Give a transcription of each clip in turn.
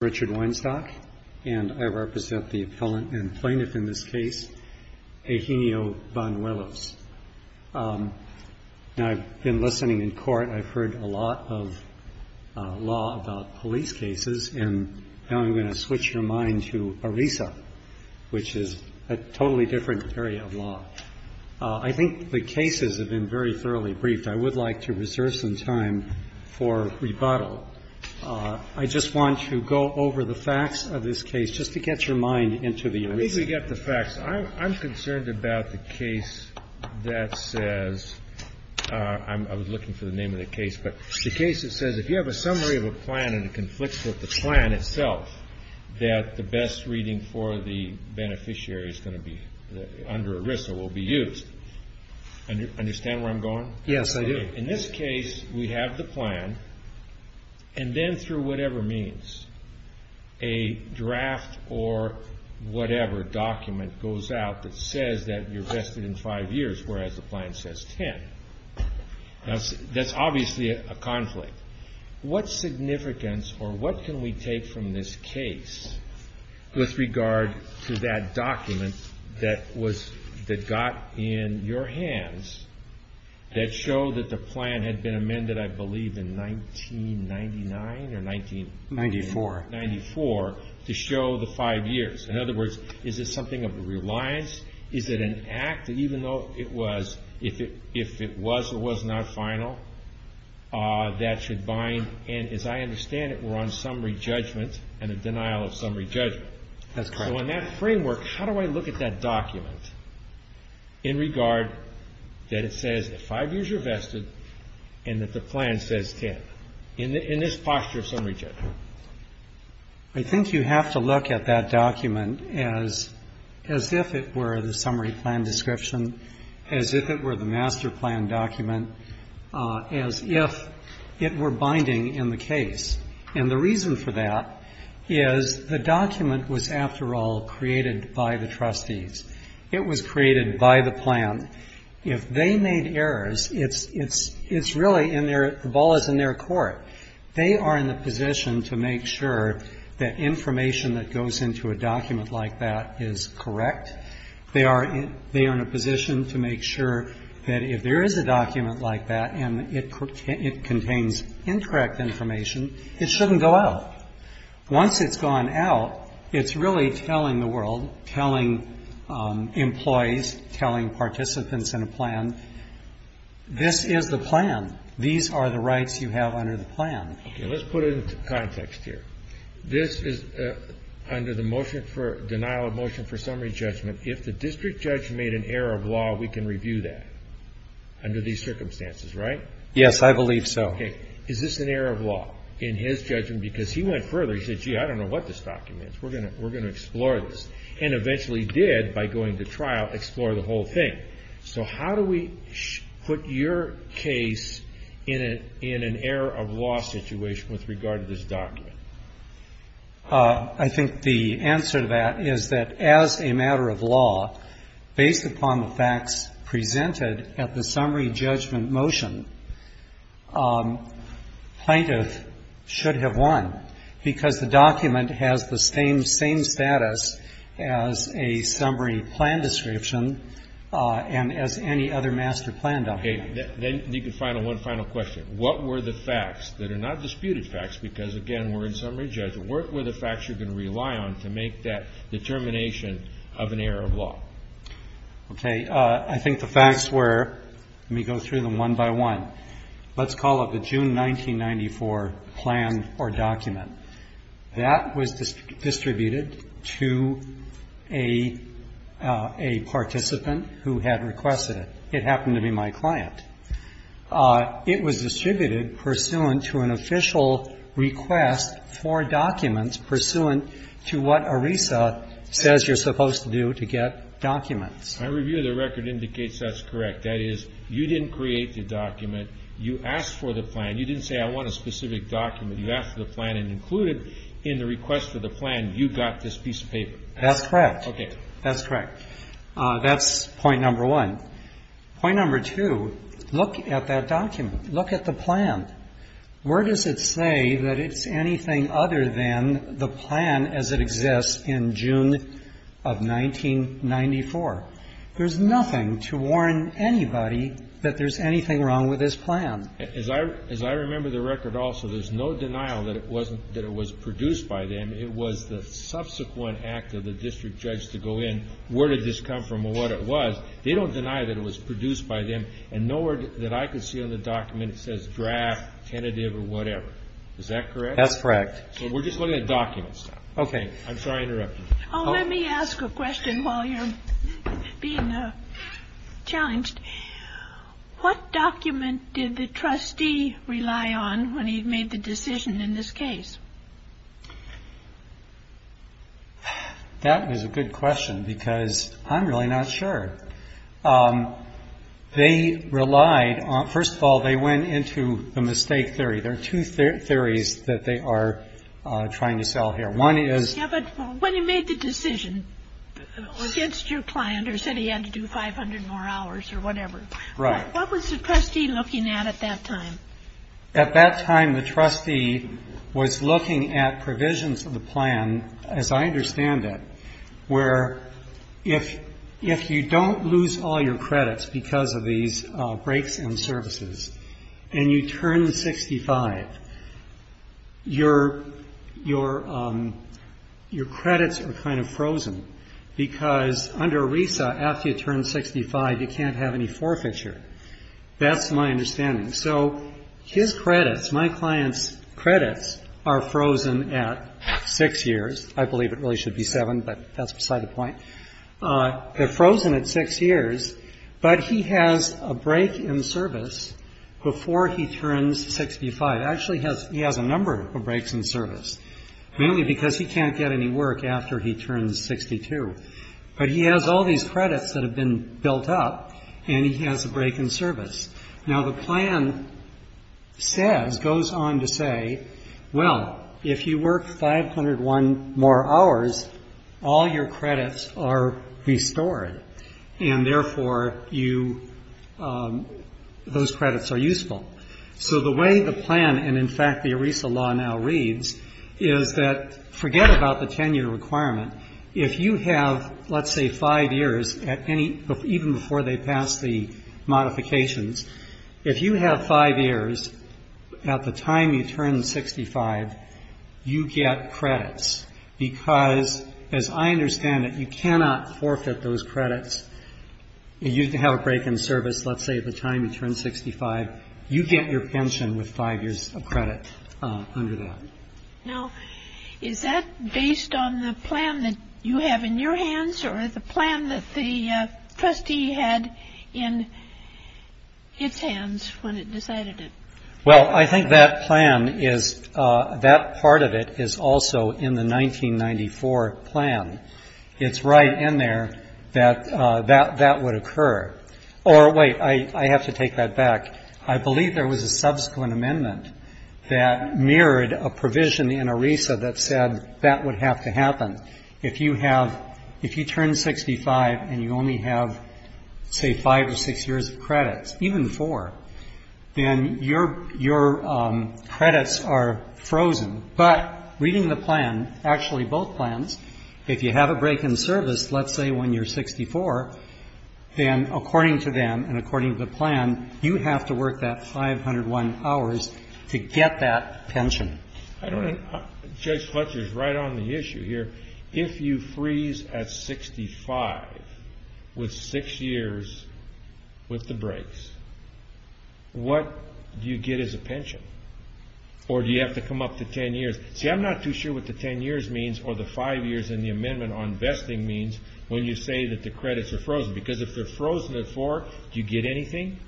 Richard Weinstock, and I represent the appellant and plaintiff in this case, Eugenio Banuelos. Now, I've been listening in court. I've heard a lot of law about police cases, and now I'm going to switch your mind to ERISA, which is a totally different area of law. I think the cases have been very thoroughly briefed. I would like to reserve some time for rebuttal. I just want to go over the facts of this case, just to get your mind into the ERISA. I think we've got the facts. I'm concerned about the case that says – I was looking for the name of the case, but the case that says if you have a summary of a plan and it conflicts with the plan itself, that the best reading for the beneficiary under ERISA will be used. Do you understand where I'm going? Yes, I do. In this case, we have the plan, and then through whatever means, a draft or whatever document goes out that says that you're vested in five years, whereas the plan says ten. That's obviously a conflict. What significance or what can we take from this case with regard to that document that got in your hands that showed that the plan had been amended, I believe, in 1999 or 1994, to show the five years? In other words, is this something of a reliance? Is it an act, even though it was, if it was or was not final, that should bind? And as I understand it, we're on summary judgment and a denial of summary judgment. That's correct. So in that framework, how do I look at that document in regard that it says five years you're vested and that the plan says ten? In this posture of summary judgment. I think you have to look at that document as if it were the summary plan description, as if it were the master plan document, as if it were binding in the case. And the reason for that is the document was, after all, created by the trustees. It was created by the plan. If they made errors, it's really in their, the ball is in their court. They are in the position to make sure that information that goes into a document like that is correct. They are in a position to make sure that if there is a document like that and it contains incorrect information, it shouldn't go out. Once it's gone out, it's really telling the world, telling employees, telling participants in a plan, this is the plan. These are the rights you have under the plan. Okay. Let's put it into context here. This is under the motion for denial of motion for summary judgment. If the district judge made an error of law, we can review that under these circumstances, right? Yes, I believe so. Okay. Is this an error of law in his judgment? Because he went further. He said, gee, I don't know what this document is. We're going to explore this. And eventually did, by going to trial, explore the whole thing. So how do we put your case in an error of law situation with regard to this document? I think the answer to that is that as a matter of law, based upon the facts presented at the summary judgment motion, plaintiff should have won because the document has the same status as a summary plan description and as any other master plan document. Okay. Then you can find one final question. What were the facts that are not disputed facts? Because, again, we're in summary judgment. What were the facts you're going to rely on to make that determination of an error of law? Okay. I think the facts were, let me go through them one by one. Let's call it the June 1994 plan or document. That was distributed to a participant who had requested it. It happened to be my client. It was distributed pursuant to an official request for documents pursuant to what ERISA says you're supposed to do to get documents. My review of the record indicates that's correct. That is, you didn't create the document. You asked for the plan. You didn't say, I want a specific document. You asked for the plan and included in the request for the plan, you got this piece of paper. That's correct. Okay. That's correct. That's point number one. Point number two, look at that document. Look at the plan. Where does it say that it's anything other than the plan as it exists in June of 1994? There's nothing to warn anybody that there's anything wrong with this plan. As I remember the record also, there's no denial that it was produced by them. It was the subsequent act of the district judge to go in, where did this come from or what it was. They don't deny that it was produced by them. And nowhere that I could see on the document it says draft, tentative or whatever. Is that correct? That's correct. So we're just looking at documents now. Okay. I'm sorry to interrupt you. Oh, let me ask a question while you're being challenged. What document did the trustee rely on when he made the decision in this case? That is a good question because I'm really not sure. They relied on, first of all, they went into the mistake theory. There are two theories that they are trying to sell here. One is. Yeah, but when he made the decision against your client or said he had to do 500 more hours or whatever. Right. What was the trustee looking at at that time? At that time the trustee was looking at provisions of the plan, as I understand it, if you don't lose all your credits because of these breaks and services and you turn 65, your credits are kind of frozen because under RESA, after you turn 65, you can't have any forfeiture. That's my understanding. So his credits, my client's credits are frozen at six years. I believe it really should be seven, but that's beside the point. They're frozen at six years, but he has a break in service before he turns 65. Actually, he has a number of breaks in service, mainly because he can't get any work after he turns 62. But he has all these credits that have been built up and he has a break in service. Now, the plan says, goes on to say, well, if you work 501 more hours, all your credits are restored, and therefore those credits are useful. So the way the plan and, in fact, the RESA law now reads is that forget about the 10-year requirement. If you have, let's say, five years, even before they pass the modifications, if you have five years at the time you turn 65, you get credits because, as I understand it, you cannot forfeit those credits. You have a break in service, let's say, at the time you turn 65. You get your pension with five years of credit under that. Now, is that based on the plan that you have in your hands or the plan that the trustee had in its hands when it decided it? Well, I think that plan is, that part of it is also in the 1994 plan. It's right in there that that would occur. Or wait, I have to take that back. I believe there was a subsequent amendment that mirrored a provision in RESA that said that would have to happen. If you have, if you turn 65 and you only have, say, five or six years of credits, even four, then your credits are frozen. But reading the plan, actually both plans, if you have a break in service, let's say when you're 64, then according to them and according to the plan, you have to work that 501 hours to get that pension. I don't know. Judge Fletcher is right on the issue here. If you freeze at 65 with six years with the breaks, what do you get as a pension? Or do you have to come up to 10 years? See, I'm not too sure what the 10 years means or the five years in the amendment on vesting means when you say that the credits are frozen, because if they're frozen at four, do you get anything?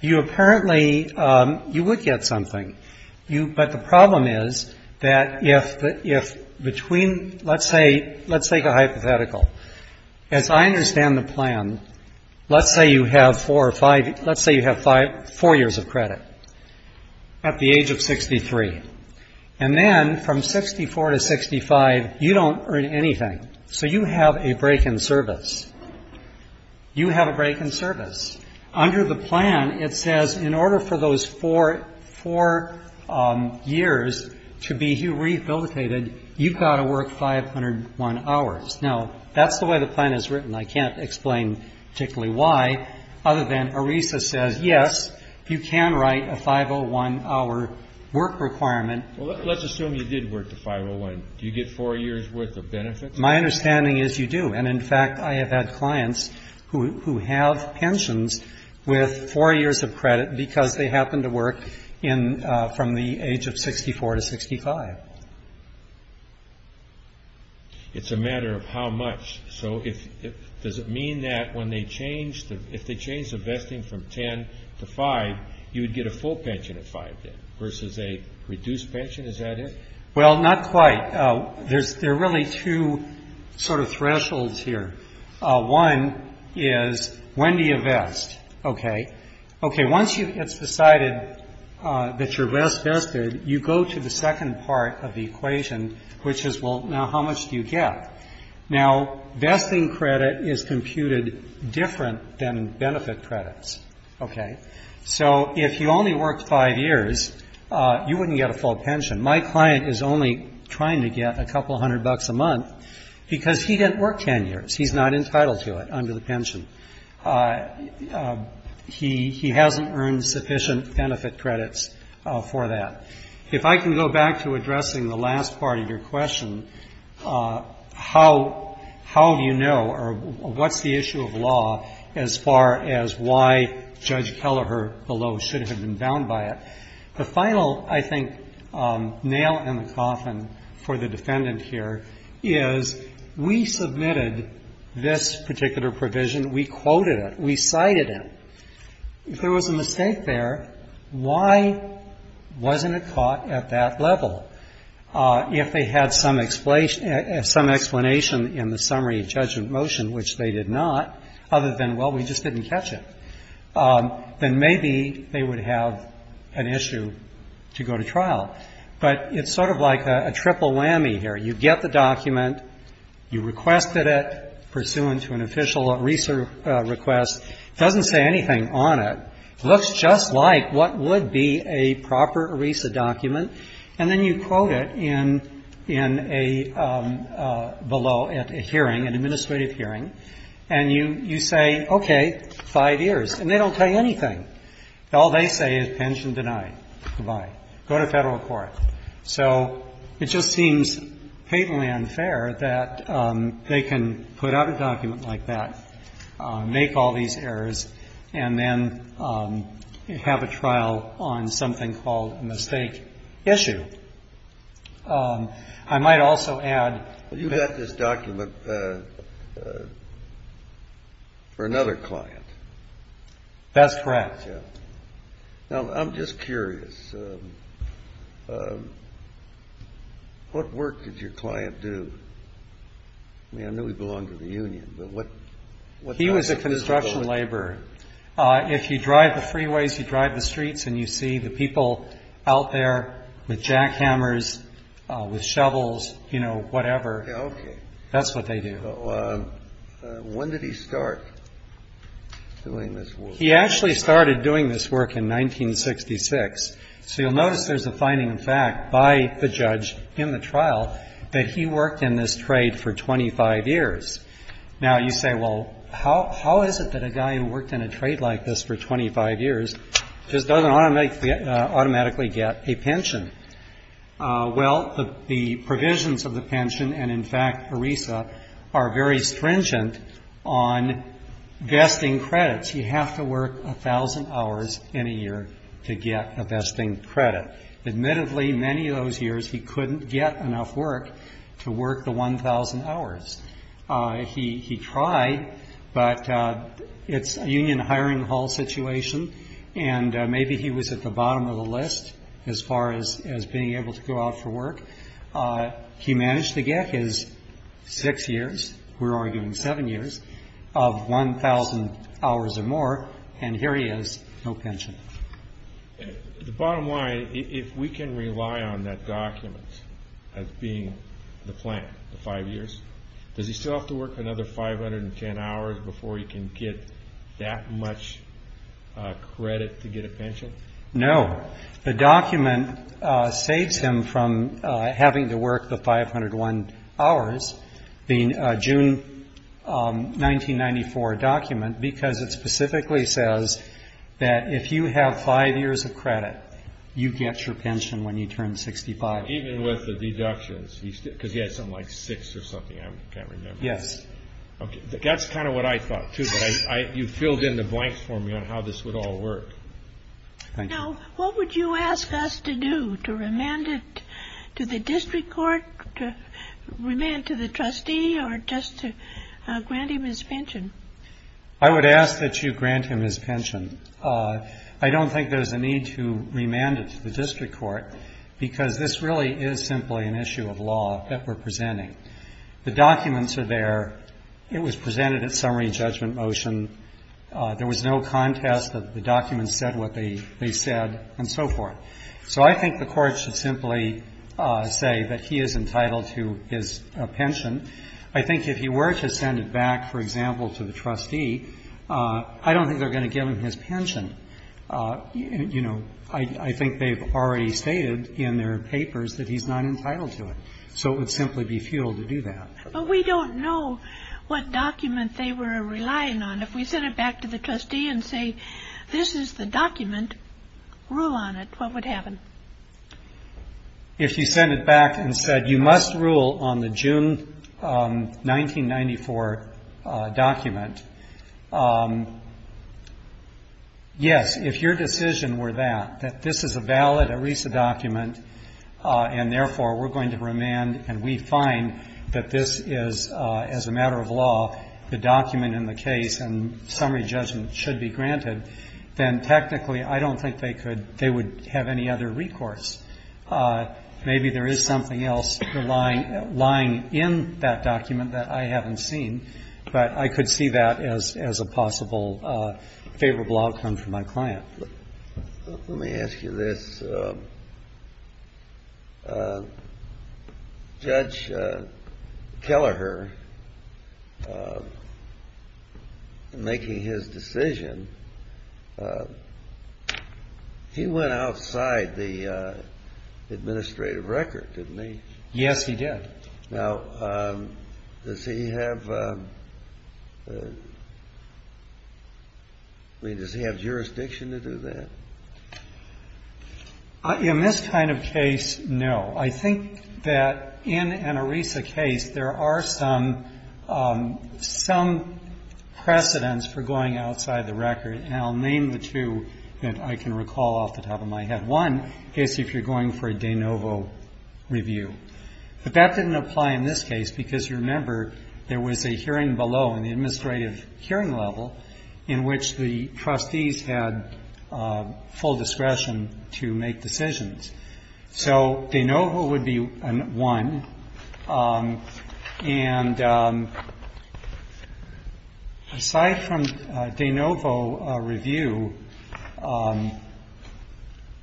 You apparently, you would get something. But the problem is that if between, let's say, let's take a hypothetical. As I understand the plan, let's say you have four or five, let's say you have four years of credit at the age of 63. And then from 64 to 65, you don't earn anything. So you have a break in service. You have a break in service. Under the plan, it says in order for those four years to be rehabilitated, you've got to work 501 hours. Now, that's the way the plan is written. I can't explain particularly why, other than ERISA says, yes, you can write a 501-hour work requirement. Well, let's assume you did work the 501. Do you get four years' worth of benefits? My understanding is you do. And, in fact, I have had clients who have pensions with four years of credit because they happen to work from the age of 64 to 65. It's a matter of how much. Does it mean that if they change the vesting from 10 to 5, you would get a full pension at 5, then, versus a reduced pension? Is that it? Well, not quite. There are really two sort of thresholds here. One is when do you vest? Okay. Okay, once it's decided that you're best vested, you go to the second part of the equation, which is, well, now how much do you get? Now, vesting credit is computed different than benefit credits. Okay? So if you only worked five years, you wouldn't get a full pension. My client is only trying to get a couple hundred bucks a month because he didn't work 10 years. He's not entitled to it under the pension. He hasn't earned sufficient benefit credits for that. If I can go back to addressing the last part of your question, how do you know or what's the issue of law as far as why Judge Kelleher below should have been bound by it? The final, I think, nail in the coffin for the defendant here is we submitted this particular provision. We quoted it. We cited it. If there was a mistake there, why wasn't it caught at that level? If they had some explanation in the summary judgment motion, which they did not, other than, well, we just didn't catch it, then maybe they would have an issue to go to trial. But it's sort of like a triple whammy here. You get the document. You requested it pursuant to an official request. It doesn't say anything on it. It looks just like what would be a proper ERISA document. And then you quote it in a below at a hearing, an administrative hearing. And you say, okay, five years. And they don't tell you anything. All they say is pension denied. Goodbye. Go to federal court. So it just seems patently unfair that they can put out a document like that, make all these errors, and then have a trial on something called a mistake issue. I might also add that this document for another client. That's correct. Now, I'm just curious. What work did your client do? I mean, I know he belonged to the union, but what? He was a construction laborer. If you drive the freeways, you drive the streets and you see the people out there with jackhammers, with shovels, you know, whatever. Okay. That's what they do. When did he start doing this work? He actually started doing this work in 1966. So you'll notice there's a finding of fact by the judge in the trial that he worked in this trade for 25 years. Now, you say, well, how is it that a guy who worked in a trade like this for 25 years just doesn't automatically get a pension? Well, the provisions of the pension and, in fact, ERISA are very stringent on vesting credits. You have to work 1,000 hours in a year to get a vesting credit. Admittedly, many of those years he couldn't get enough work to work the 1,000 hours. He tried, but it's a union hiring hall situation, and maybe he was at the bottom of the list as far as being able to go out for work. He managed to get his six years, we're arguing seven years, of 1,000 hours or more, and here he is, no pension. The bottom line, if we can rely on that document as being the plan for five years, does he still have to work another 510 hours before he can get that much credit to get a pension? No. The document saves him from having to work the 501 hours, the June 1994 document, because it specifically says that if you have five years of credit, you get your pension when you turn 65. Even with the deductions? Because he had something like six or something, I can't remember. Yes. Okay. That's kind of what I thought, too, but you filled in the blanks for me on how this would all work. Thank you. Now, what would you ask us to do, to remand it to the district court, to remand it to the trustee, or just to grant him his pension? I would ask that you grant him his pension. I don't think there's a need to remand it to the district court because this really is simply an issue of law that we're presenting. The documents are there. It was presented at summary judgment motion. There was no contest that the documents said what they said and so forth. So I think the court should simply say that he is entitled to his pension. I think if he were to send it back, for example, to the trustee, I don't think they're going to give him his pension. You know, I think they've already stated in their papers that he's not entitled to it. So it would simply be futile to do that. But we don't know what document they were relying on. If we sent it back to the trustee and say this is the document, rule on it, what would happen? If you sent it back and said you must rule on the June 1994 document, yes, if your decision were that, this is a valid ERISA document and therefore we're going to remand and we find that this is, as a matter of law, the document in the case and summary judgment should be granted, then technically I don't think they could, they would have any other recourse. Maybe there is something else lying in that document that I haven't seen, but I could see that as a possible favorable outcome for my client. Let me ask you this. Judge Kelleher making his decision, he went outside the administrative record, didn't he? Yes, he did. Now, does he have, I mean, does he have jurisdiction to do that? In this kind of case, no. I think that in an ERISA case there are some precedents for going outside the record, and I'll name the two that I can recall off the top of my head. One is if you're going for a de novo review. But that didn't apply in this case because, remember, there was a hearing below in the administrative hearing level in which the trustees had full discretion to make decisions. So de novo would be one. And aside from de novo review,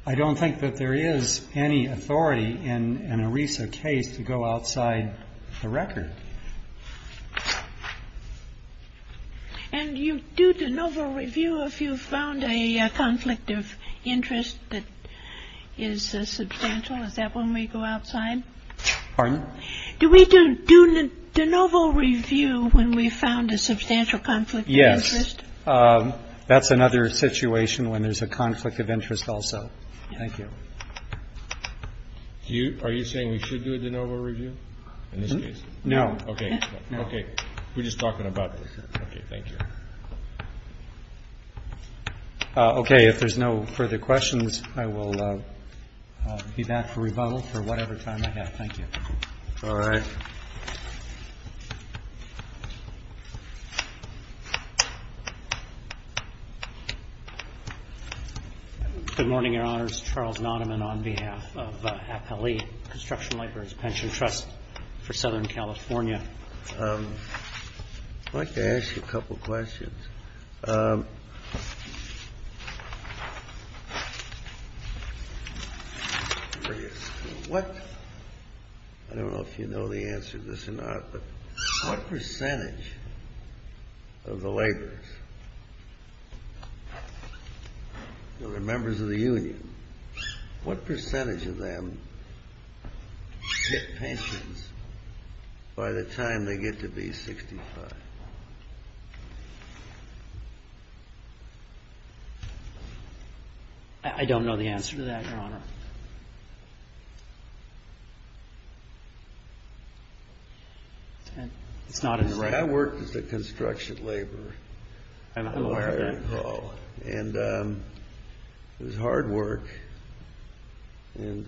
I don't think that there is any authority in an ERISA case to go outside the record. And you do de novo review if you found a conflict of interest that is substantial. Is that when we go outside? Pardon? Do we do de novo review when we found a substantial conflict of interest? Yes. That's another situation when there's a conflict of interest also. Thank you. Are you saying we should do a de novo review in this case? No. Okay. Okay. We're just talking about this. Okay. Okay. If there's no further questions, I will be back for rebuttal for whatever time I have. Thank you. All right. Good morning, Your Honors. Charles Notaman on behalf of Appellee Construction Libraries Pension Trust for Southern California. I'd like to ask you a couple of questions. What – I don't know if you know the answer to this or not, but what percentage of the laborers, the members of the union, what percentage of them get pensions by the time they get to be 65? I don't know the answer to that, Your Honor. It's not as – I worked as a construction laborer. I'm aware of that. And it was hard work, and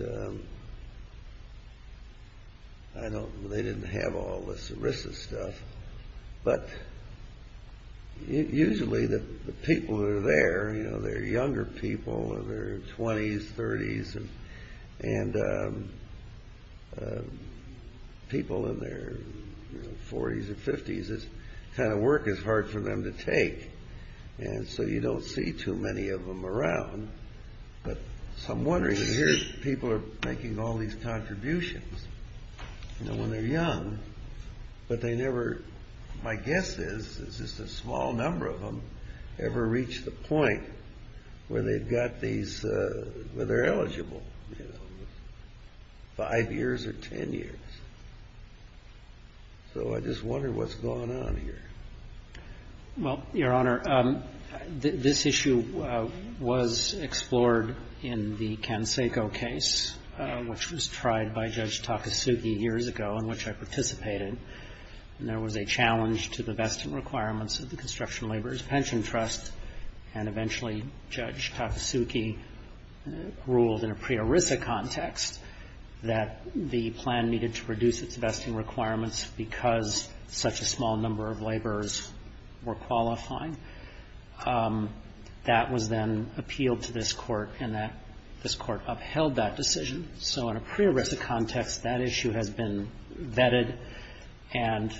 I don't – they didn't have all the services and stuff, but usually the people that are there, you know, they're younger people, they're in their 20s, 30s, and people in their 40s or 50s, this kind of work is hard for them to take, and so you don't see too many of them around. But I'm wondering, here people are making all these contributions, you know, when they're young, but they never – my guess is just a small number of them ever reach the point where they've got these – where they're eligible, you know, five years or ten years. So I just wonder what's going on here. Well, Your Honor, this issue was explored in the Canseco case, which was tried by Judge Takasugi years ago, in which I participated, and there was a challenge to the vesting requirements of the Construction Laborers' Pension Trust. And eventually Judge Takasugi ruled in a pre-ERISA context that the plan needed to reduce its vesting requirements because such a small number of laborers were qualifying. That was then appealed to this Court, and this Court upheld that decision. So in a pre-ERISA context, that issue has been vetted and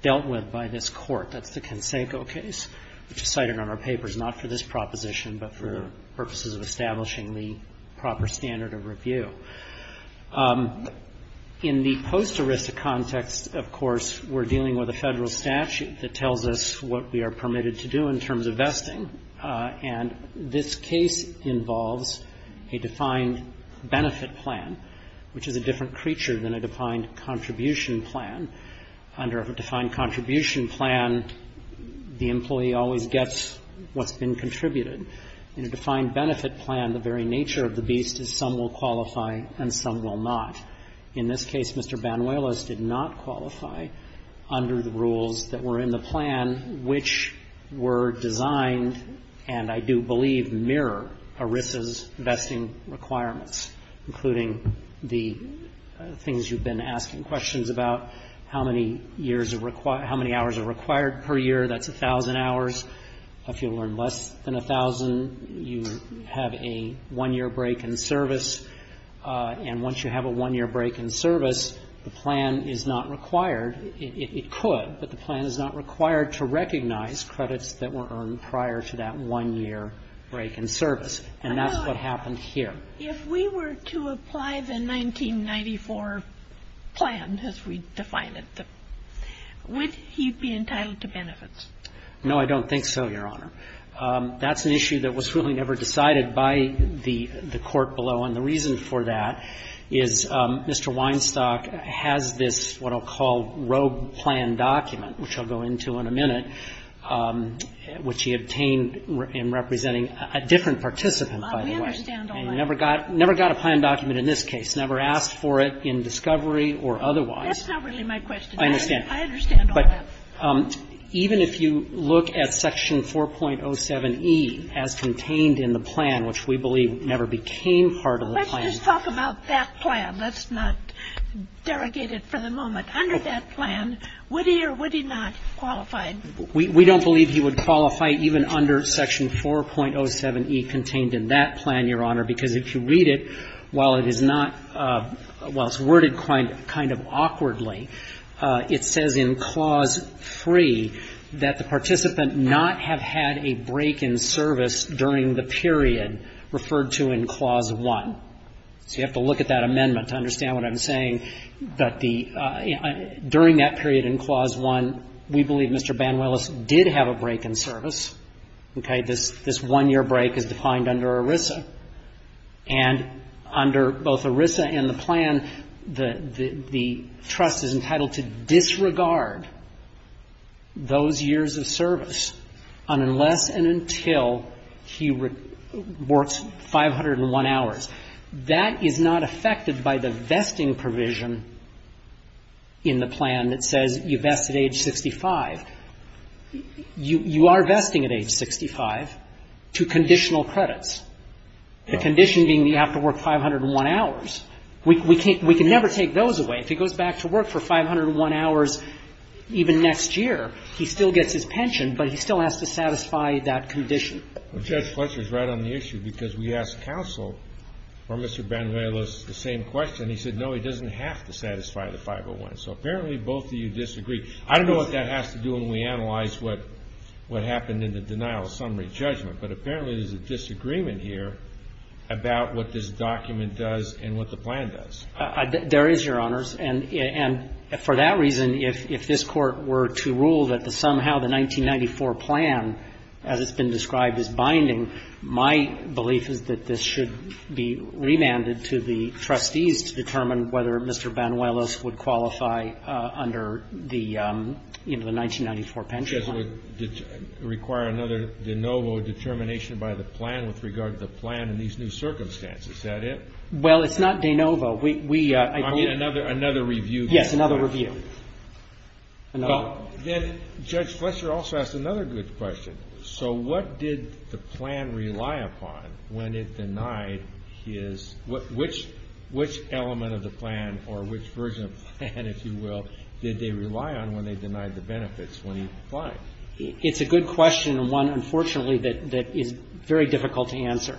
dealt with by this Court. That's the Canseco case, which is cited on our papers, not for this proposition, but for purposes of establishing the proper standard of review. In the post-ERISA context, of course, we're dealing with a federal statute that tells us what we are permitted to do in terms of vesting. And this case involves a defined benefit plan, which is a different creature than a defined contribution plan. Under a defined contribution plan, the employee always gets what's been contributed. In a defined benefit plan, the very nature of the beast is some will qualify and some will not. In this case, Mr. Banuelos did not qualify under the rules that were in the plan, which were designed, and I do believe mirror, ERISA's vesting requirements, including the things you've been asking questions about, how many years are required how many hours are required per year, that's 1,000 hours. If you earn less than 1,000, you have a one-year break in service. And once you have a one-year break in service, the plan is not required. It could, but the plan is not required to recognize credits that were earned prior to that one-year break in service. And that's what happened here. If we were to apply the 1994 plan as we define it, would he be entitled to benefits? No, I don't think so, Your Honor. That's an issue that was really never decided by the court below, and the reason for that is Mr. Weinstock has this what I'll call rogue plan document, which I'll go into in a minute, which he obtained in representing a different participant, by the way. And he never got a plan document in this case, never asked for it in discovery or otherwise. That's not really my question. I understand. I understand all that. But even if you look at Section 4.07e as contained in the plan, which we believe never became part of the plan. Let's just talk about that plan. Let's not derogate it for the moment. Under that plan, would he or would he not qualify? We don't believe he would qualify even under Section 4.07e contained in that plan, Your Honor, because if you read it, while it is not – while it's worded kind of awkwardly, it says in Clause 3 that the participant not have had a break in service during the period referred to in Clause 1. So you have to look at that amendment to understand what I'm saying. During that period in Clause 1, we believe Mr. Banuelos did have a break in service. Okay? This one-year break is defined under ERISA. And under both ERISA and the plan, the trust is entitled to disregard those years of service unless and until he works 501 hours. That is not affected by the vesting provision in the plan that says you vest at age 65. You are vesting at age 65 to conditional credits, the condition being that you have to work 501 hours. We can never take those away. If he goes back to work for 501 hours even next year, he still gets his pension, but he still has to satisfy that condition. Well, Judge Fletcher is right on the issue because we asked counsel for Mr. Banuelos the same question. He said, no, he doesn't have to satisfy the 501. So apparently both of you disagree. I don't know what that has to do when we analyze what happened in the denial of summary judgment, but apparently there's a disagreement here about what this document does and what the plan does. There is, Your Honors. And for that reason, if this Court were to rule that somehow the 1994 plan, as it's been described, is binding, my belief is that this should be remanded to the trustees to determine whether Mr. Banuelos would qualify under the 1994 pension plan. It would require another de novo determination by the plan with regard to the plan in these new circumstances. Is that it? Well, it's not de novo. We, I believe. I mean, another review. Yes, another review. Then Judge Fletcher also asked another good question. So what did the plan rely upon when it denied his, which element of the plan or which version of the plan, if you will, did they rely on when they denied the benefits when he applied? It's a good question and one, unfortunately, that is very difficult to answer.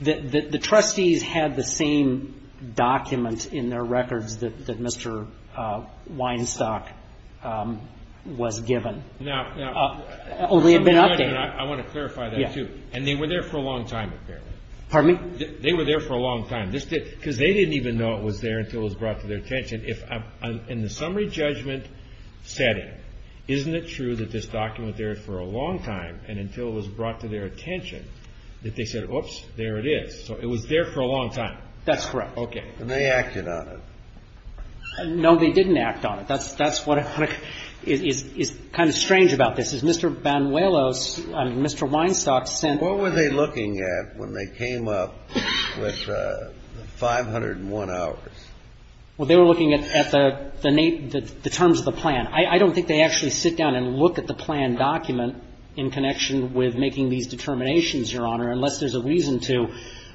The trustees had the same document in their records that Mr. Weinstock was given. Now, I want to clarify that, too. And they were there for a long time, apparently. Pardon me? They were there for a long time. Because they didn't even know it was there until it was brought to their attention. In the summary judgment setting, isn't it true that this document was there for a long time and until it was brought to their attention that they said, oops, there it is. So it was there for a long time. That's correct. Okay. And they acted on it. No, they didn't act on it. That's what is kind of strange about this. Is Mr. Banuelos, I mean, Mr. Weinstock sent. What were they looking at when they came up with the 501 hours? Well, they were looking at the terms of the plan. I don't think they actually sit down and look at the plan document in connection with making these determinations, Your Honor, unless there's a reason to.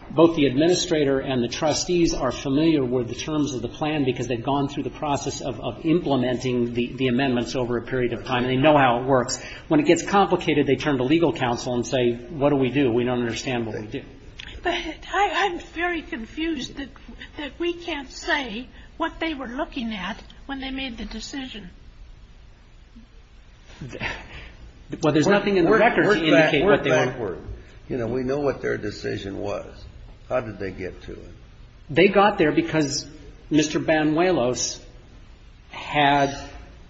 Both the administrator and the trustees are familiar with the terms of the plan because they've gone through the process of implementing the amendments over a period of time and they know how it works. When it gets complicated, they turn to legal counsel and say, what do we do? We don't understand what we do. But I'm very confused that we can't say what they were looking at when they made the decision. Well, there's nothing in the records to indicate what they were. You know, we know what their decision was. How did they get to it? They got there because Mr. Banuelos had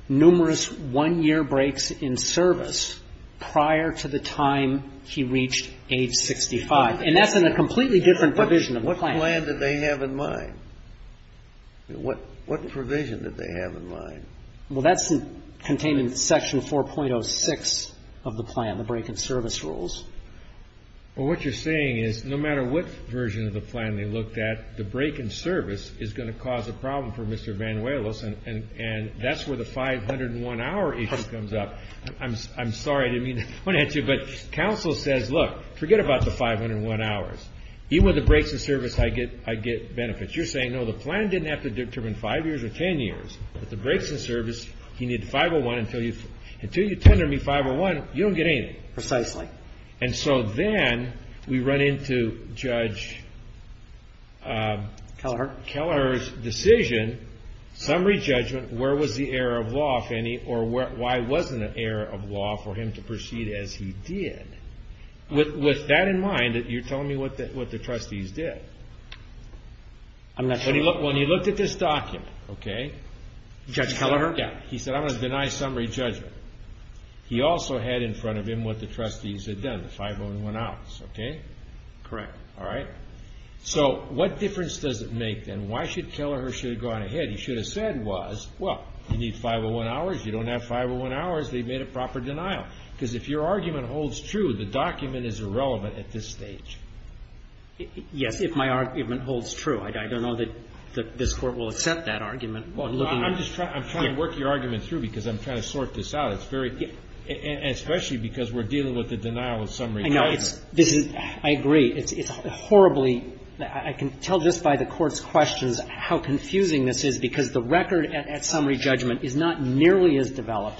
numerous one-year breaks in service prior to the time he reached age 65. And that's in a completely different provision of the plan. What plan did they have in mind? What provision did they have in mind? Well, that's contained in Section 4.06 of the plan, the break in service rules. Well, what you're saying is no matter what version of the plan they looked at, the break in service is going to cause a problem for Mr. Banuelos, and that's where the 501-hour issue comes up. I'm sorry, I didn't mean to point at you, but counsel says, look, forget about the 501 hours. Even with the breaks in service, I get benefits. You're saying, no, the plan didn't have to determine 5 years or 10 years, but the breaks in service, he needed 501. Until you tender me 501, you don't get anything. Precisely. And so then we run into Judge Kelleher's decision, summary judgment, where was the error of law, or why wasn't an error of law for him to proceed as he did? With that in mind, you're telling me what the trustees did. I'm not sure. When he looked at this document, okay? Judge Kelleher? Yeah. He said, I'm going to deny summary judgment. He also had in front of him what the trustees had done, the 501 hours, okay? Correct. All right? So what difference does it make, then? Why should Kelleher should have gone ahead? He should have said was, well, you need 501 hours, you don't have 501 hours, they've made a proper denial. Because if your argument holds true, the document is irrelevant at this stage. Yes, if my argument holds true. I don't know that this Court will accept that argument. Well, I'm just trying to work your argument through, because I'm trying to sort this out. It's very – and especially because we're dealing with the denial of summary judgment. I know. This is – I agree. It's horribly – I can tell just by the Court's questions how confusing this is, because the record at summary judgment is not nearly as developed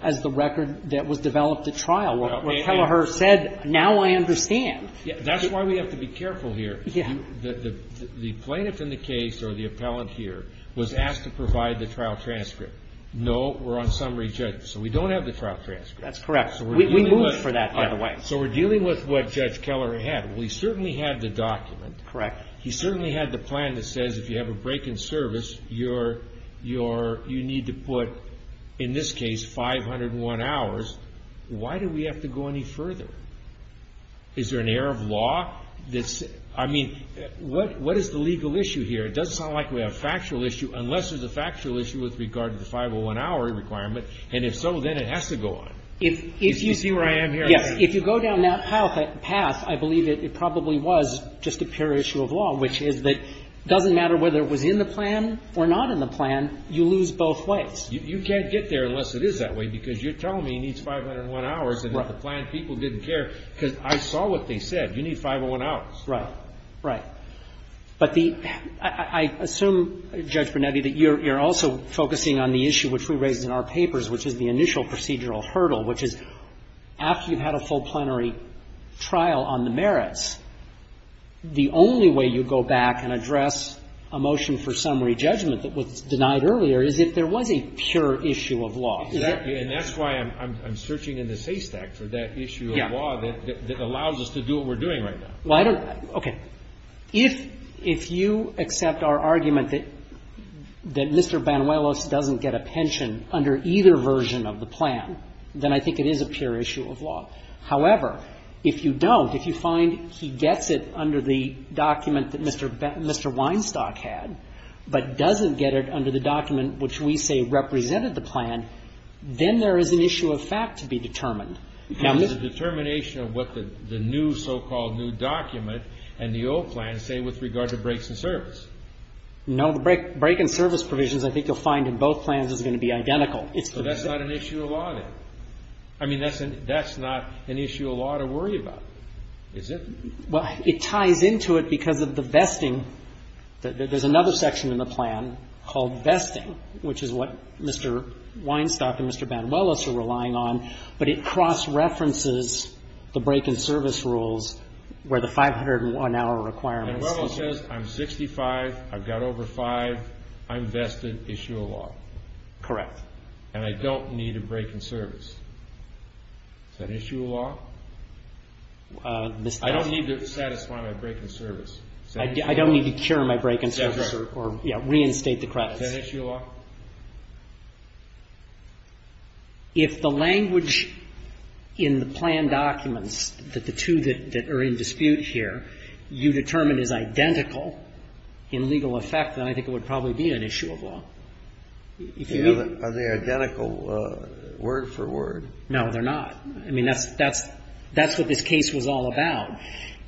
as the record that was developed at trial, where Kelleher said, now I understand. That's why we have to be careful here. The plaintiff in the case, or the appellant here, was asked to provide the trial transcript. No, we're on summary judgment, so we don't have the trial transcript. That's correct. We moved for that, by the way. So we're dealing with what Judge Kelleher had. Well, he certainly had the document. Correct. He certainly had the plan that says if you have a break in service, you need to put, in this case, 501 hours. Why do we have to go any further? Is there an error of law that's – I mean, what is the legal issue here? It doesn't sound like we have a factual issue, unless there's a factual issue with regard to the 501-hour requirement, and if so, then it has to go on. If you see where I am here, I think. Yes. If you go down that path, I believe it probably was just a pure issue of law, which is that it doesn't matter whether it was in the plan or not in the plan, you lose both ways. You can't get there unless it is that way, because you're telling me it needs 501 hours, and if the plan people didn't care, because I saw what they said. You need 501 hours. Right. Right. But the – I assume, Judge Brunetti, that you're also focusing on the issue which we raise in our papers, which is the initial procedural hurdle, which is after you've had a full plenary trial on the merits, the only way you go back and address a motion for summary judgment that was denied earlier is if there was a pure issue of law. Exactly. And that's why I'm searching in the SACE Act for that issue of law that allows us to do what we're doing right now. Well, I don't – okay. If you accept our argument that Mr. Banuelos doesn't get a pension under either version of the plan, then I think it is a pure issue of law. However, if you don't, if you find he gets it under the document that Mr. Weinstock had, but doesn't get it under the document which we say represented the plan, then there is an issue of fact to be determined. Now, there's a determination of what the new so-called new document and the old plan say with regard to breaks in service. No. The break in service provisions I think you'll find in both plans is going to be identical. So that's not an issue of law, then? I mean, that's not an issue of law to worry about, is it? Well, it ties into it because of the vesting. There's another section in the plan called vesting, which is what Mr. Weinstock and Mr. Banuelos are relying on, but it cross-references the break in service rules where the 501-hour requirements. Banuelos says I'm 65, I've got over 5, I'm vested, issue of law. Correct. And I don't need a break in service. Is that issue of law? I don't need to satisfy my break in service. I don't need to cure my break in service or reinstate the credits. Is that issue of law? If the language in the plan documents, the two that are in dispute here, you determine is identical in legal effect, then I think it would probably be an issue of law. Are they identical word for word? No, they're not. I mean, that's what this case was all about,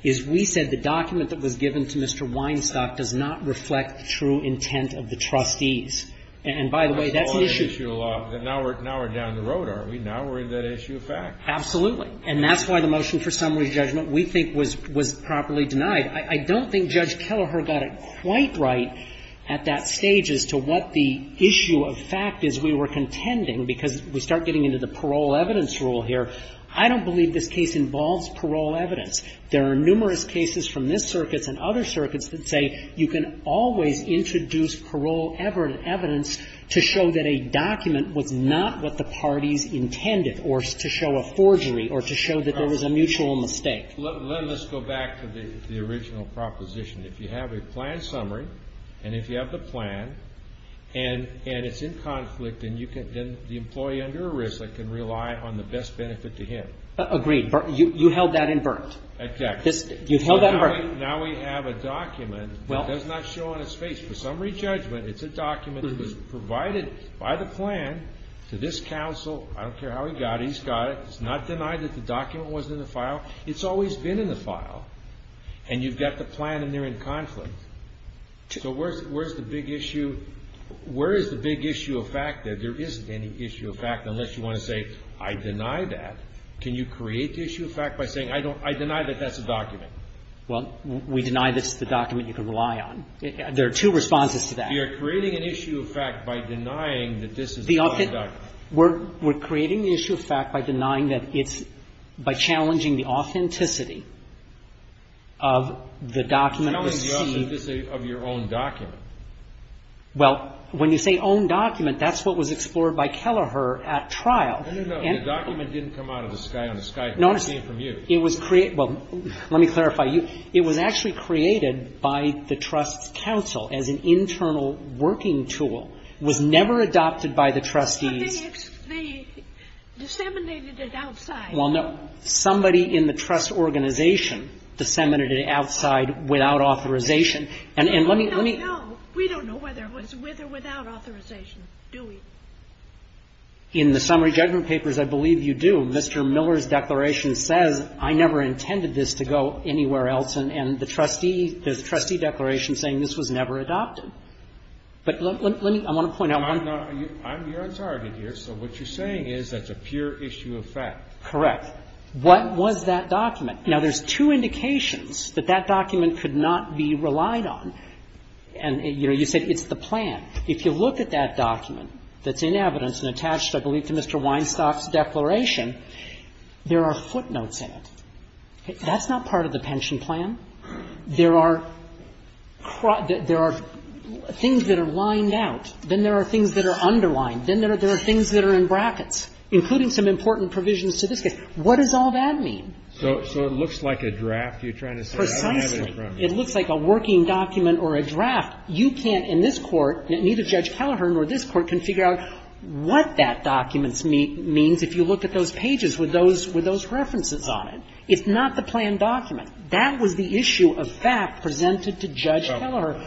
is we said the document that was given to Mr. Weinstock does not reflect the true intent of the trustees. And by the way, that's an issue of law. Now we're down the road, are we? Now we're in that issue of fact. Absolutely. And that's why the motion for summary judgment we think was properly denied. I don't think Judge Kelleher got it quite right at that stage as to what the issue of fact is. We were contending, because we start getting into the parole evidence rule here, I don't believe this case involves parole evidence. There are numerous cases from this circuit and other circuits that say you can always introduce parole evidence to show that a document was not what the parties intended or to show a forgery or to show that there was a mutual mistake. Let's go back to the original proposition. If you have a plan summary and if you have the plan and it's in conflict, then the employee under arrest can rely on the best benefit to him. Agreed. You held that in burnt. Exactly. You held that in burnt. Now we have a document that does not show on its face. For summary judgment, it's a document that was provided by the plan to this counsel. I don't care how he got it. He's got it. It's not denied that the document wasn't in the file. It's always been in the file. And you've got the plan and they're in conflict. So where's the big issue? Where is the big issue of fact that there isn't any issue of fact unless you want to say I deny that? Can you create the issue of fact by saying I don't – I deny that that's a document? Well, we deny this is the document you can rely on. There are two responses to that. You're creating an issue of fact by denying that this is a document. We're creating the issue of fact by denying that it's – by challenging the authenticity of the document. Challenging the authenticity of your own document. Well, when you say own document, that's what was explored by Kelleher at trial. No, no, no. The document didn't come out of the sky on a sky. It came from you. It was – well, let me clarify. It was actually created by the trust's counsel as an internal working tool. It was never adopted by the trustees. But they disseminated it outside. Well, no. Somebody in the trust organization disseminated it outside without authorization. And let me – let me – No, no, no. We don't know whether it was with or without authorization, do we? In the summary judgment papers, I believe you do. Mr. Miller's declaration says I never intended this to go anywhere else. And the trustee – the trustee declaration saying this was never adopted. But let me – I want to point out one – I'm not – I'm your attorney here, so what you're saying is that's a pure issue of fact. Correct. What was that document? Now, there's two indications that that document could not be relied on. And, you know, you said it's the plan. If you look at that document that's in evidence and attached, I believe, to Mr. Weinstock's declaration, there are footnotes in it. That's not part of the pension plan. There are – there are things that are lined out. Then there are things that are underlined. Then there are things that are in brackets, including some important provisions to this case. What does all that mean? So – so it looks like a draft you're trying to say. Precisely. It looks like a working document or a draft. You can't in this Court, neither Judge Kelleher nor this Court can figure out what that document means if you look at those pages with those – with those references on it. It's not the plan document. That was the issue of fact presented to Judge Kelleher.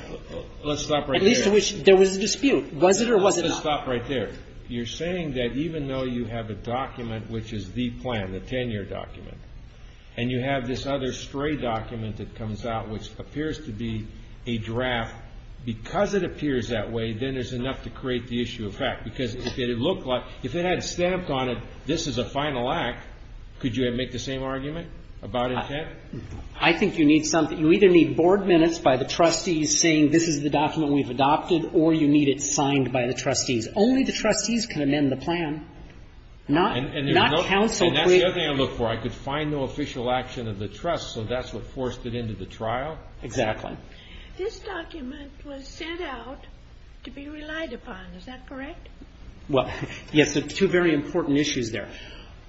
Let's stop right there. At least there was a dispute. Was it or was it not? Let's just stop right there. You're saying that even though you have a document which is the plan, the 10-year document, and you have this other stray document that comes out which appears to be a draft, because it appears that way, then there's enough to create the issue of fact. Because if it looked like – if it had stamped on it, this is a final act, could you make the same argument about intent? I think you need something – you either need board minutes by the trustees saying this is the document we've adopted, or you need it signed by the trustees. Only the trustees can amend the plan, not – not counsel. And that's the other thing I look for. I could find the official action of the trust, so that's what forced it into the trial? Exactly. This document was sent out to be relied upon. Is that correct? Well, yes. There are two very important issues there.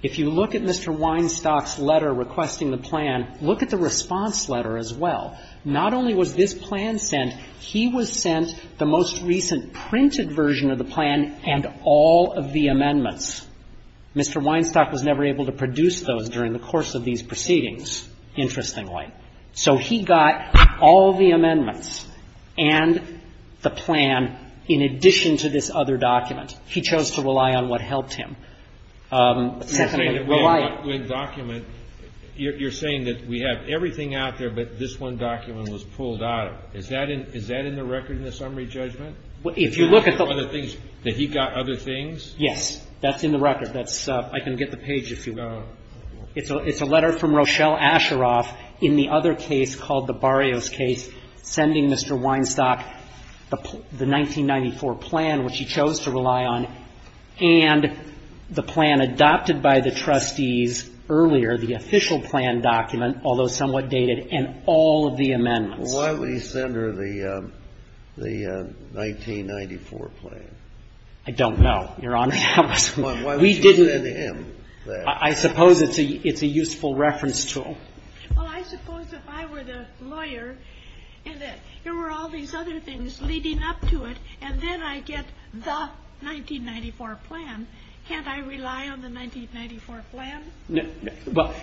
If you look at Mr. Weinstock's letter requesting the plan, look at the response letter as well. Not only was this plan sent, he was sent the most recent printed version of the plan and all of the amendments. Mr. Weinstock was never able to produce those during the course of these proceedings, interestingly. So he got all the amendments and the plan in addition to this other document. He chose to rely on what helped him. You're saying that we have one document. You're saying that we have everything out there, but this one document was pulled out. Is that in the record in the summary judgment? If you look at the other things, that he got other things? Yes. That's in the record. That's – I can get the page if you want. It's a letter from Rochelle Asheroff in the other case called the Barrios case sending Mr. Weinstock the 1994 plan, which he chose to rely on, and the plan adopted by the trustees earlier, the official plan document, although somewhat dated, and all of the amendments. Why would he send her the 1994 plan? I don't know, Your Honor. Why would you send him that? I suppose it's a useful reference tool. Well, I suppose if I were the lawyer and there were all these other things leading up to it, and then I get the 1994 plan, can't I rely on the 1994 plan? Well,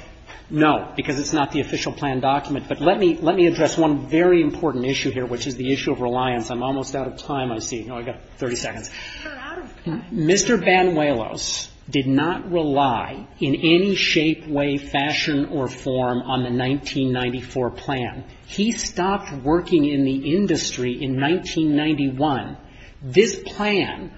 no, because it's not the official plan document. But let me address one very important issue here, which is the issue of reliance. I'm almost out of time, I see. Oh, I've got 30 seconds. You're out of time. Mr. Banuelos did not rely in any shape, way, fashion, or form on the 1994 plan. He stopped working in the industry in 1991. This plan,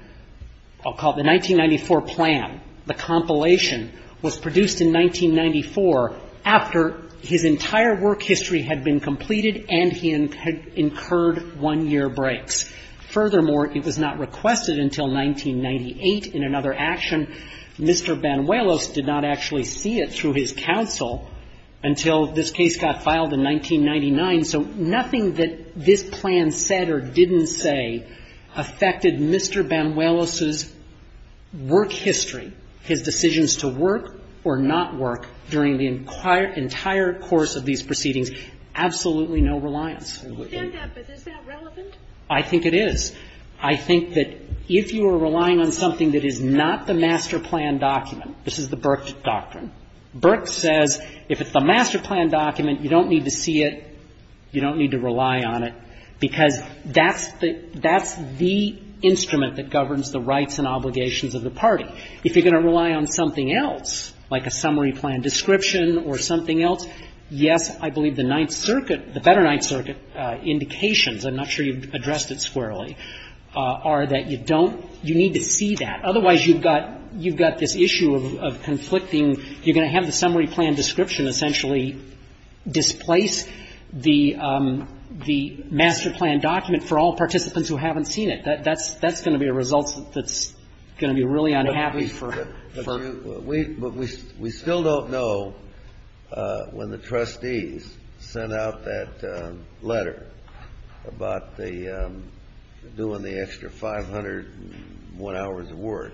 I'll call it the 1994 plan, the compilation, was produced in 1994 after his entire work history had been completed and he had incurred one-year breaks. Furthermore, it was not requested until 1998 in another action. Mr. Banuelos did not actually see it through his counsel until this case got filed in 1999. So nothing that this plan said or didn't say affected Mr. Banuelos's work history, his decisions to work or not work during the entire course of these proceedings. Absolutely no reliance. Stand up. Is that relevant? I think it is. I think that if you are relying on something that is not the master plan document this is the Burke doctrine. Burke says if it's the master plan document, you don't need to see it, you don't need to rely on it, because that's the instrument that governs the rights and obligations of the party. If you're going to rely on something else, like a summary plan description or something else, yes, I believe the Ninth Circuit, the better Ninth Circuit indications, I'm not sure you've addressed it squarely, are that you don't, you need to see that. Otherwise, you've got, you've got this issue of conflicting, you're going to have the summary plan description essentially displace the master plan document for all participants who haven't seen it. That's going to be a result that's going to be really unhappy. But we still don't know when the trustees sent out that letter about the, doing the extra 501 hours of work,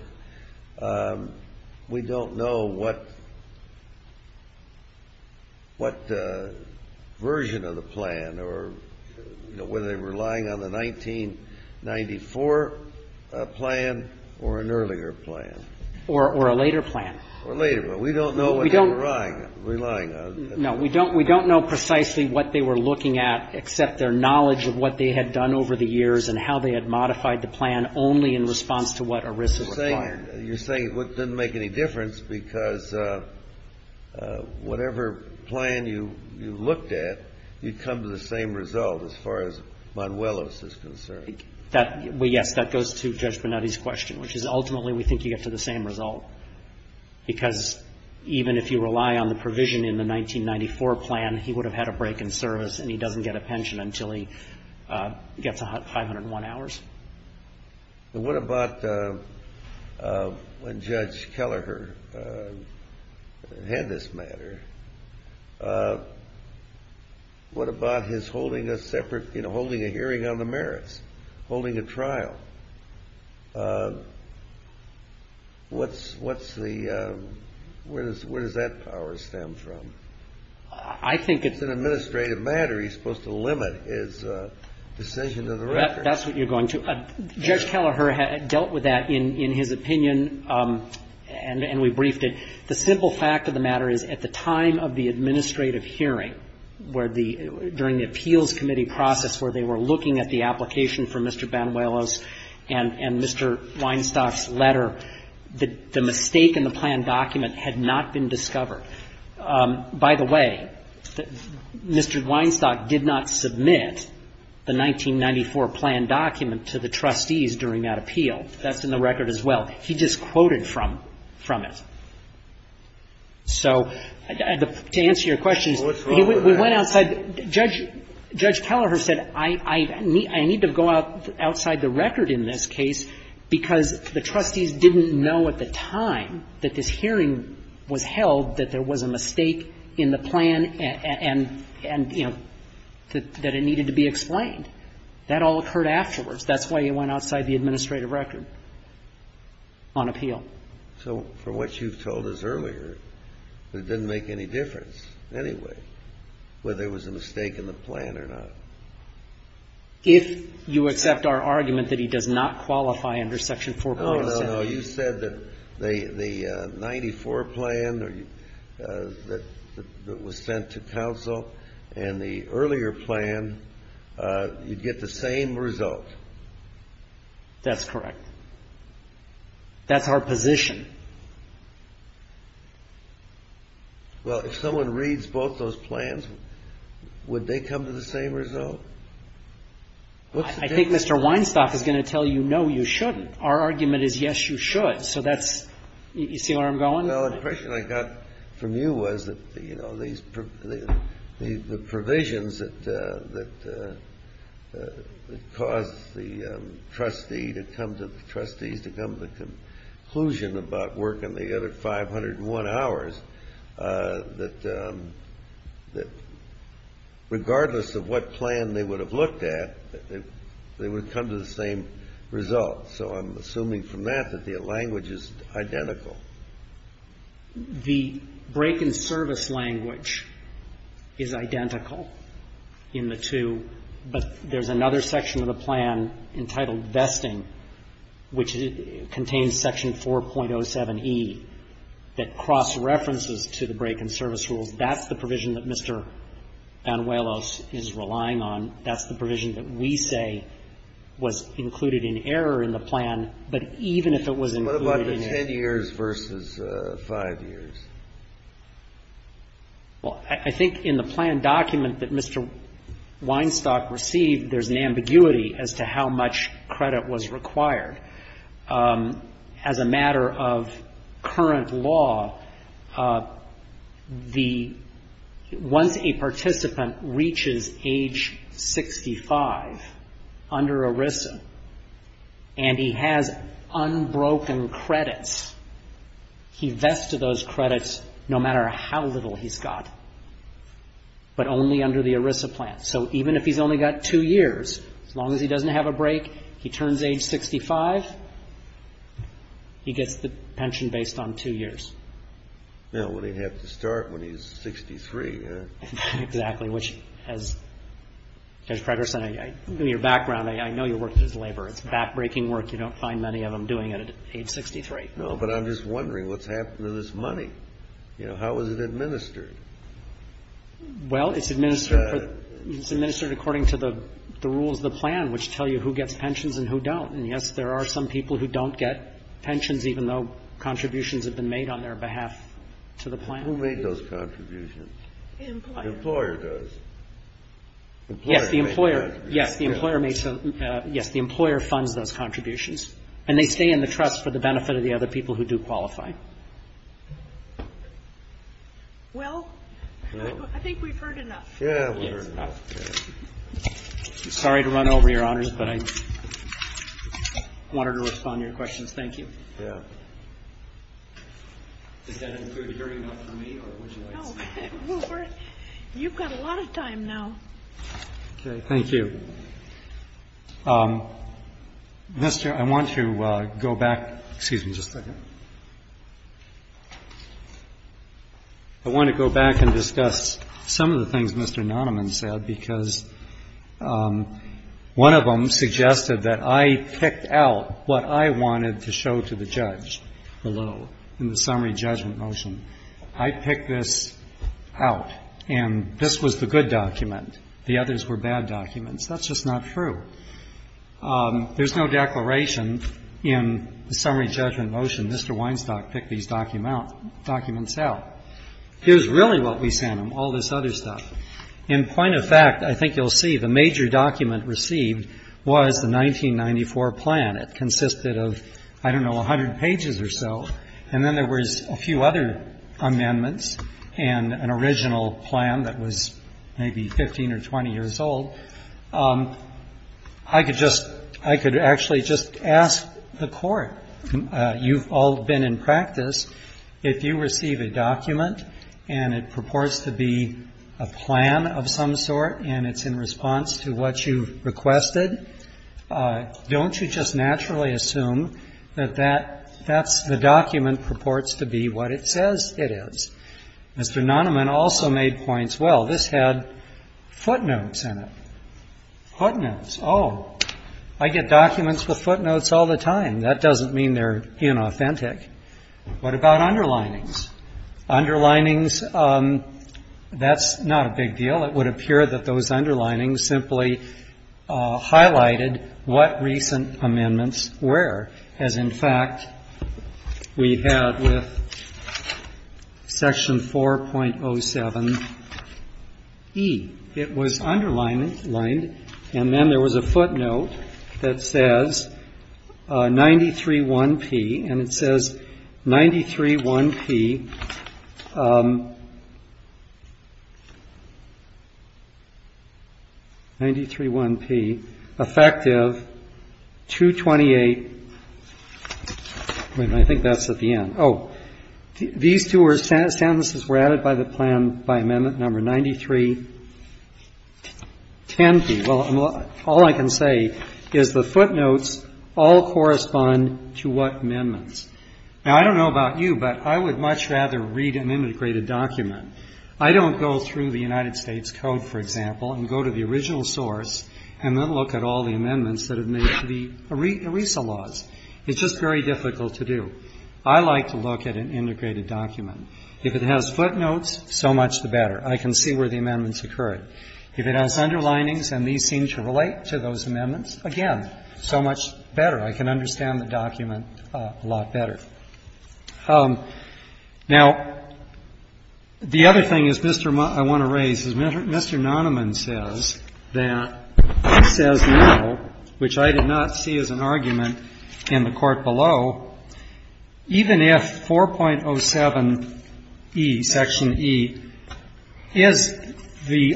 we don't know what, what version of the plan or whether they were relying on the 1994 plan or an earlier plan. Or a later plan. Or later. But we don't know what they were relying on. No. We don't know precisely what they were looking at except their knowledge of what they had done over the years and how they had modified the plan only in response to what ERISA required. You're saying it didn't make any difference because whatever plan you looked at, you didn't come to the same result as far as Monuelos is concerned. That, well, yes, that goes to Judge Bonetti's question, which is ultimately we think you get to the same result. Because even if you rely on the provision in the 1994 plan, he would have had a break in service and he doesn't get a pension until he gets 501 hours. What about when Judge Kelleher had this matter, what about his holding a separate, you know, holding a hearing on the merits, holding a trial? What's the, where does that power stem from? I think it's an administrative matter. He's supposed to limit his decision to the record. That's what you're going to. Judge Kelleher had dealt with that in his opinion and we briefed it. The simple fact of the matter is at the time of the administrative hearing, where the, during the appeals committee process where they were looking at the application for Mr. Banuelos and Mr. Weinstock's letter, the mistake in the plan document had not been discovered. By the way, Mr. Weinstock did not submit the 1994 plan document to the trustees during that appeal. That's in the record as well. He just quoted from it. So to answer your question, we went outside. Judge Kelleher said I need to go outside the record in this case because the trustees didn't know at the time that this hearing was held, that there was a mistake in the plan and, you know, that it needed to be explained. That all occurred afterwards. That's why he went outside the administrative record on appeal. So from what you've told us earlier, it didn't make any difference anyway whether there was a mistake in the plan or not. If you accept our argument that he does not qualify under Section 407. No, no, no. You said that the 94 plan that was sent to counsel and the earlier plan, you'd get the same result. That's correct. That's our position. Well, if someone reads both those plans, would they come to the same result? I think Mr. Weinstock is going to tell you, no, you shouldn't. Our argument is yes, you should. So that's you see where I'm going? Well, the impression I got from you was that, you know, the provisions that caused the trustee to come to the trustees to come to the conclusion about working the other 501 hours, that regardless of what plan they would have looked at, they would come to the same result. So I'm assuming from that that the language is identical. The break-in-service language is identical in the two. But there's another section of the plan entitled Vesting, which contains Section 4.07e that cross-references to the break-in-service rules. That's the provision that Mr. Banuelos is relying on. That's the provision that we say was included in error in the plan. But even if it was included in error. What about the 10 years versus 5 years? Well, I think in the plan document that Mr. Weinstock received, there's an ambiguity as to how much credit was required. As a matter of current law, once a participant reaches age 65 under ERISA and he has unbroken credits, he vests those credits no matter how little he's got, but only under the ERISA plan. So even if he's only got 2 years, as long as he doesn't have a break, he turns age 65, he gets the pension based on 2 years. Well, he'd have to start when he's 63, huh? Exactly. Which, as Judge Fredersen, in your background, I know your work is labor. It's back-breaking work. You don't find many of them doing it at age 63. No, but I'm just wondering what's happened to this money. You know, how is it administered? Well, it's administered according to the rules of the plan, which tell you who gets pensions and who don't. And, yes, there are some people who don't get pensions, even though contributions have been made on their behalf to the plan. Who made those contributions? The employer. The employer does. Yes, the employer. Yes, the employer makes those. Yes, the employer funds those contributions. And they stay in the trust for the benefit of the other people who do qualify. Well, I think we've heard enough. Yeah, we've heard enough. Okay. I'm sorry to run over your honors, but I wanted to respond to your questions. Thank you. Yeah. Does that include hearing enough from me, or would you like to say something? No. Rupert, you've got a lot of time now. Okay. Thank you. Mr. I want to go back. Excuse me just a second. I want to go back and discuss some of the things Mr. Nonaman said, because one of them suggested that I picked out what I wanted to show to the judge below in the summary judgment motion. I picked this out, and this was the good document. The others were bad documents. That's just not true. There's no declaration in the summary judgment motion. Mr. Weinstock picked these documents out. Here's really what we sent him, all this other stuff. In point of fact, I think you'll see the major document received was the 1994 plan. It consisted of, I don't know, 100 pages or so, and then there was a few other amendments and an original plan that was maybe 15 or 20 years old. I could just ask the court, you've all been in practice, if you receive a document and it purports to be a plan of some sort and it's in response to what you've requested, don't you just naturally assume that that's the document purports to be what it says it is? Mr. Nahneman also made points. Well, this had footnotes in it. Footnotes. Oh, I get documents with footnotes all the time. That doesn't mean they're inauthentic. What about underlinings? Underlinings, that's not a big deal. It would appear that those underlinings simply highlighted what recent amendments were, as, in fact, we had with Section 4.07E. It was underlined, and then there was a footnote that says 93-1P, and it says 93-1P, 93-1P, effective 2-28, and I think that's at the end. Oh, these two sentences were added by the plan by amendment number 93-10P. Well, all I can say is the footnotes all correspond to what amendments. Now, I don't know about you, but I would much rather read an integrated document. I don't go through the United States Code, for example, and go to the original source and then look at all the amendments that have made to the ERISA laws. It's just very difficult to do. I like to look at an integrated document. If it has footnotes, so much the better. I can see where the amendments occurred. If it has underlinings and these seem to relate to those amendments, again, so much the better. I can understand the document a lot better. Now, the other thing I want to raise is Mr. Nonaman says that he says now, which I did not see as an argument in the court below, even if 4.07E, Section E, is the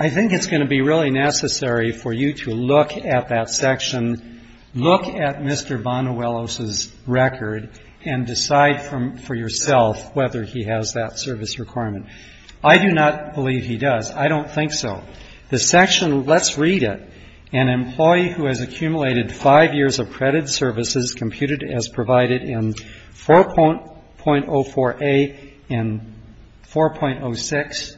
I think it's going to be really necessary for you to look at that section, look at Mr. Vonnewellos' record, and decide for yourself whether he has that service requirement. I do not believe he does. I don't think so. The section, let's read it. An employee who has accumulated five years of credit services computed as provided in 4.04A and 4.06,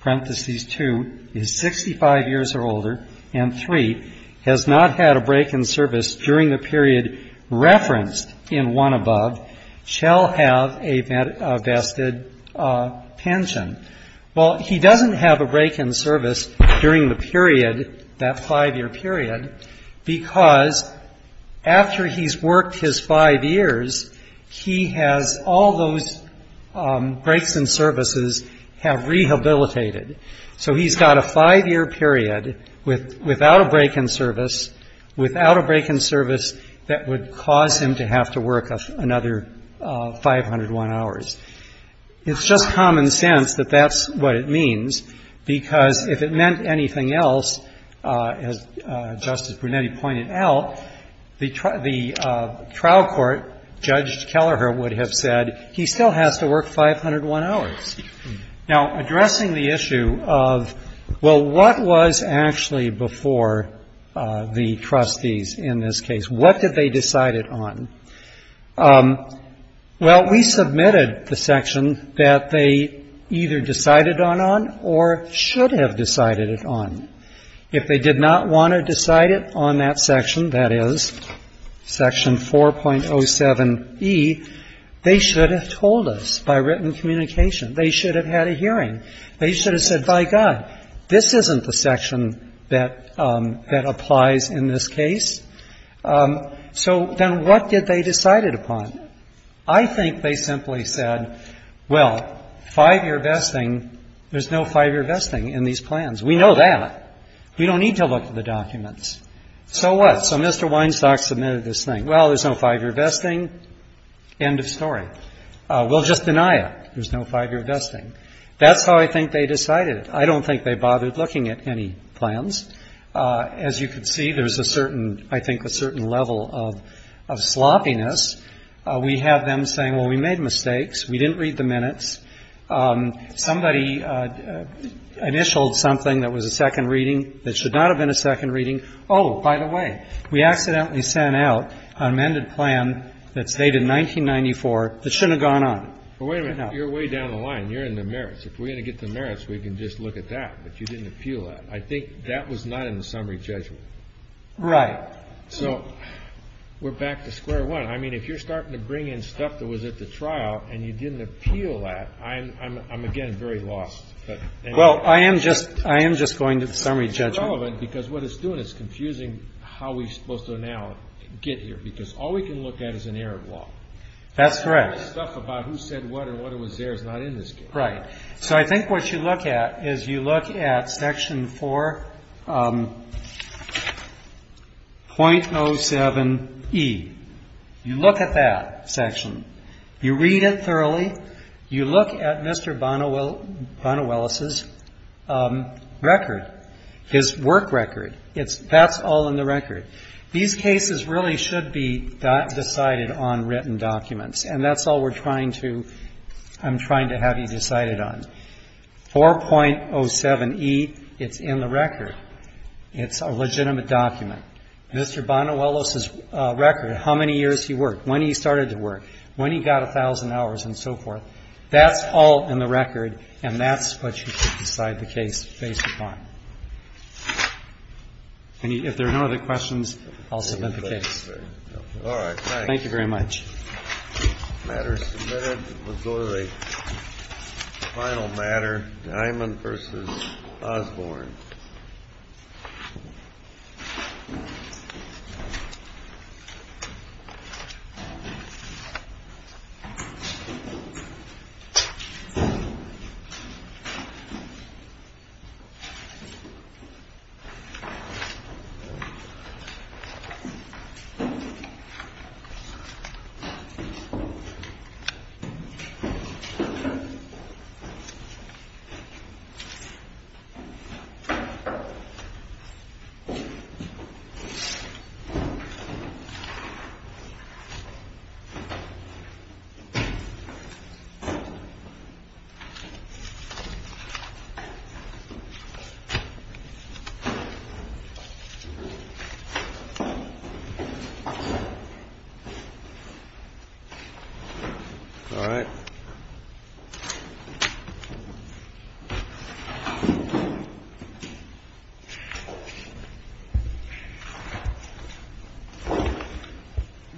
parenthesis two, is 65 years or older, and three, has not had a break in service during the period referenced in one above, shall have a vested pension. Well, he doesn't have a break in service during the period, that five-year period, because after he's worked his five years, he has all those breaks in services have rehabilitated. So he's got a five-year period without a break in service, without a break in service that would cause him to have to work another 501 hours. It's just common sense that that's what it means, because if it meant anything else, as Justice Brunetti pointed out, the trial court, Judge Kelleher would have said, he still has to work 501 hours. Now, addressing the issue of, well, what was actually before the trustees in this case? What did they decide it on? Well, we submitted the section that they either decided on or should have decided it on. If they did not want to decide it on that section, that is, section 4.07E, they should have told us by written communication. They should have had a hearing. They should have said, by God, this isn't the section that applies in this case. So then what did they decide it upon? I think they simply said, well, five-year vesting, there's no five-year vesting in these plans. We know that. We don't need to look at the documents. So what? So Mr. Weinstock submitted this thing. Well, there's no five-year vesting. End of story. We'll just deny it. There's no five-year vesting. That's how I think they decided it. I don't think they bothered looking at any plans. As you can see, there's a certain, I think, a certain level of sloppiness. We have them saying, well, we made mistakes. We didn't read the minutes. Somebody initialed something that was a second reading that should not have been a second reading. Oh, by the way, we accidentally sent out an amended plan that's dated 1994 that shouldn't have gone on. Well, wait a minute. You're way down the line. You're in the merits. If we're going to get the merits, we can just look at that. But you didn't appeal that. I think that was not in the summary judgment. Right. So we're back to square one. I mean, if you're starting to bring in stuff that was at the trial and you didn't appeal that, I'm, again, very lost. Well, I am just going to the summary judgment. Because what it's doing is confusing how we're supposed to now get here, because all we can look at is an error block. That's correct. The stuff about who said what and what was there is not in this case. Right. So I think what you look at is you look at Section 4.07e. You look at that section. You read it thoroughly. You look at Mr. Bonnewell's record, his work record. That's all in the record. These cases really should be decided on written documents. And that's all we're trying to, I'm trying to have you decided on. 4.07e, it's in the record. It's a legitimate document. Mr. Bonnewell's record, how many years he worked, when he started to work, when he got a thousand hours and so forth, that's all in the record, and that's what you should decide the case based upon. If there are no other questions, I'll submit the case. Thank you very much. The matter submitted was the final matter, Diamond v. Osborne. Thank you. All right.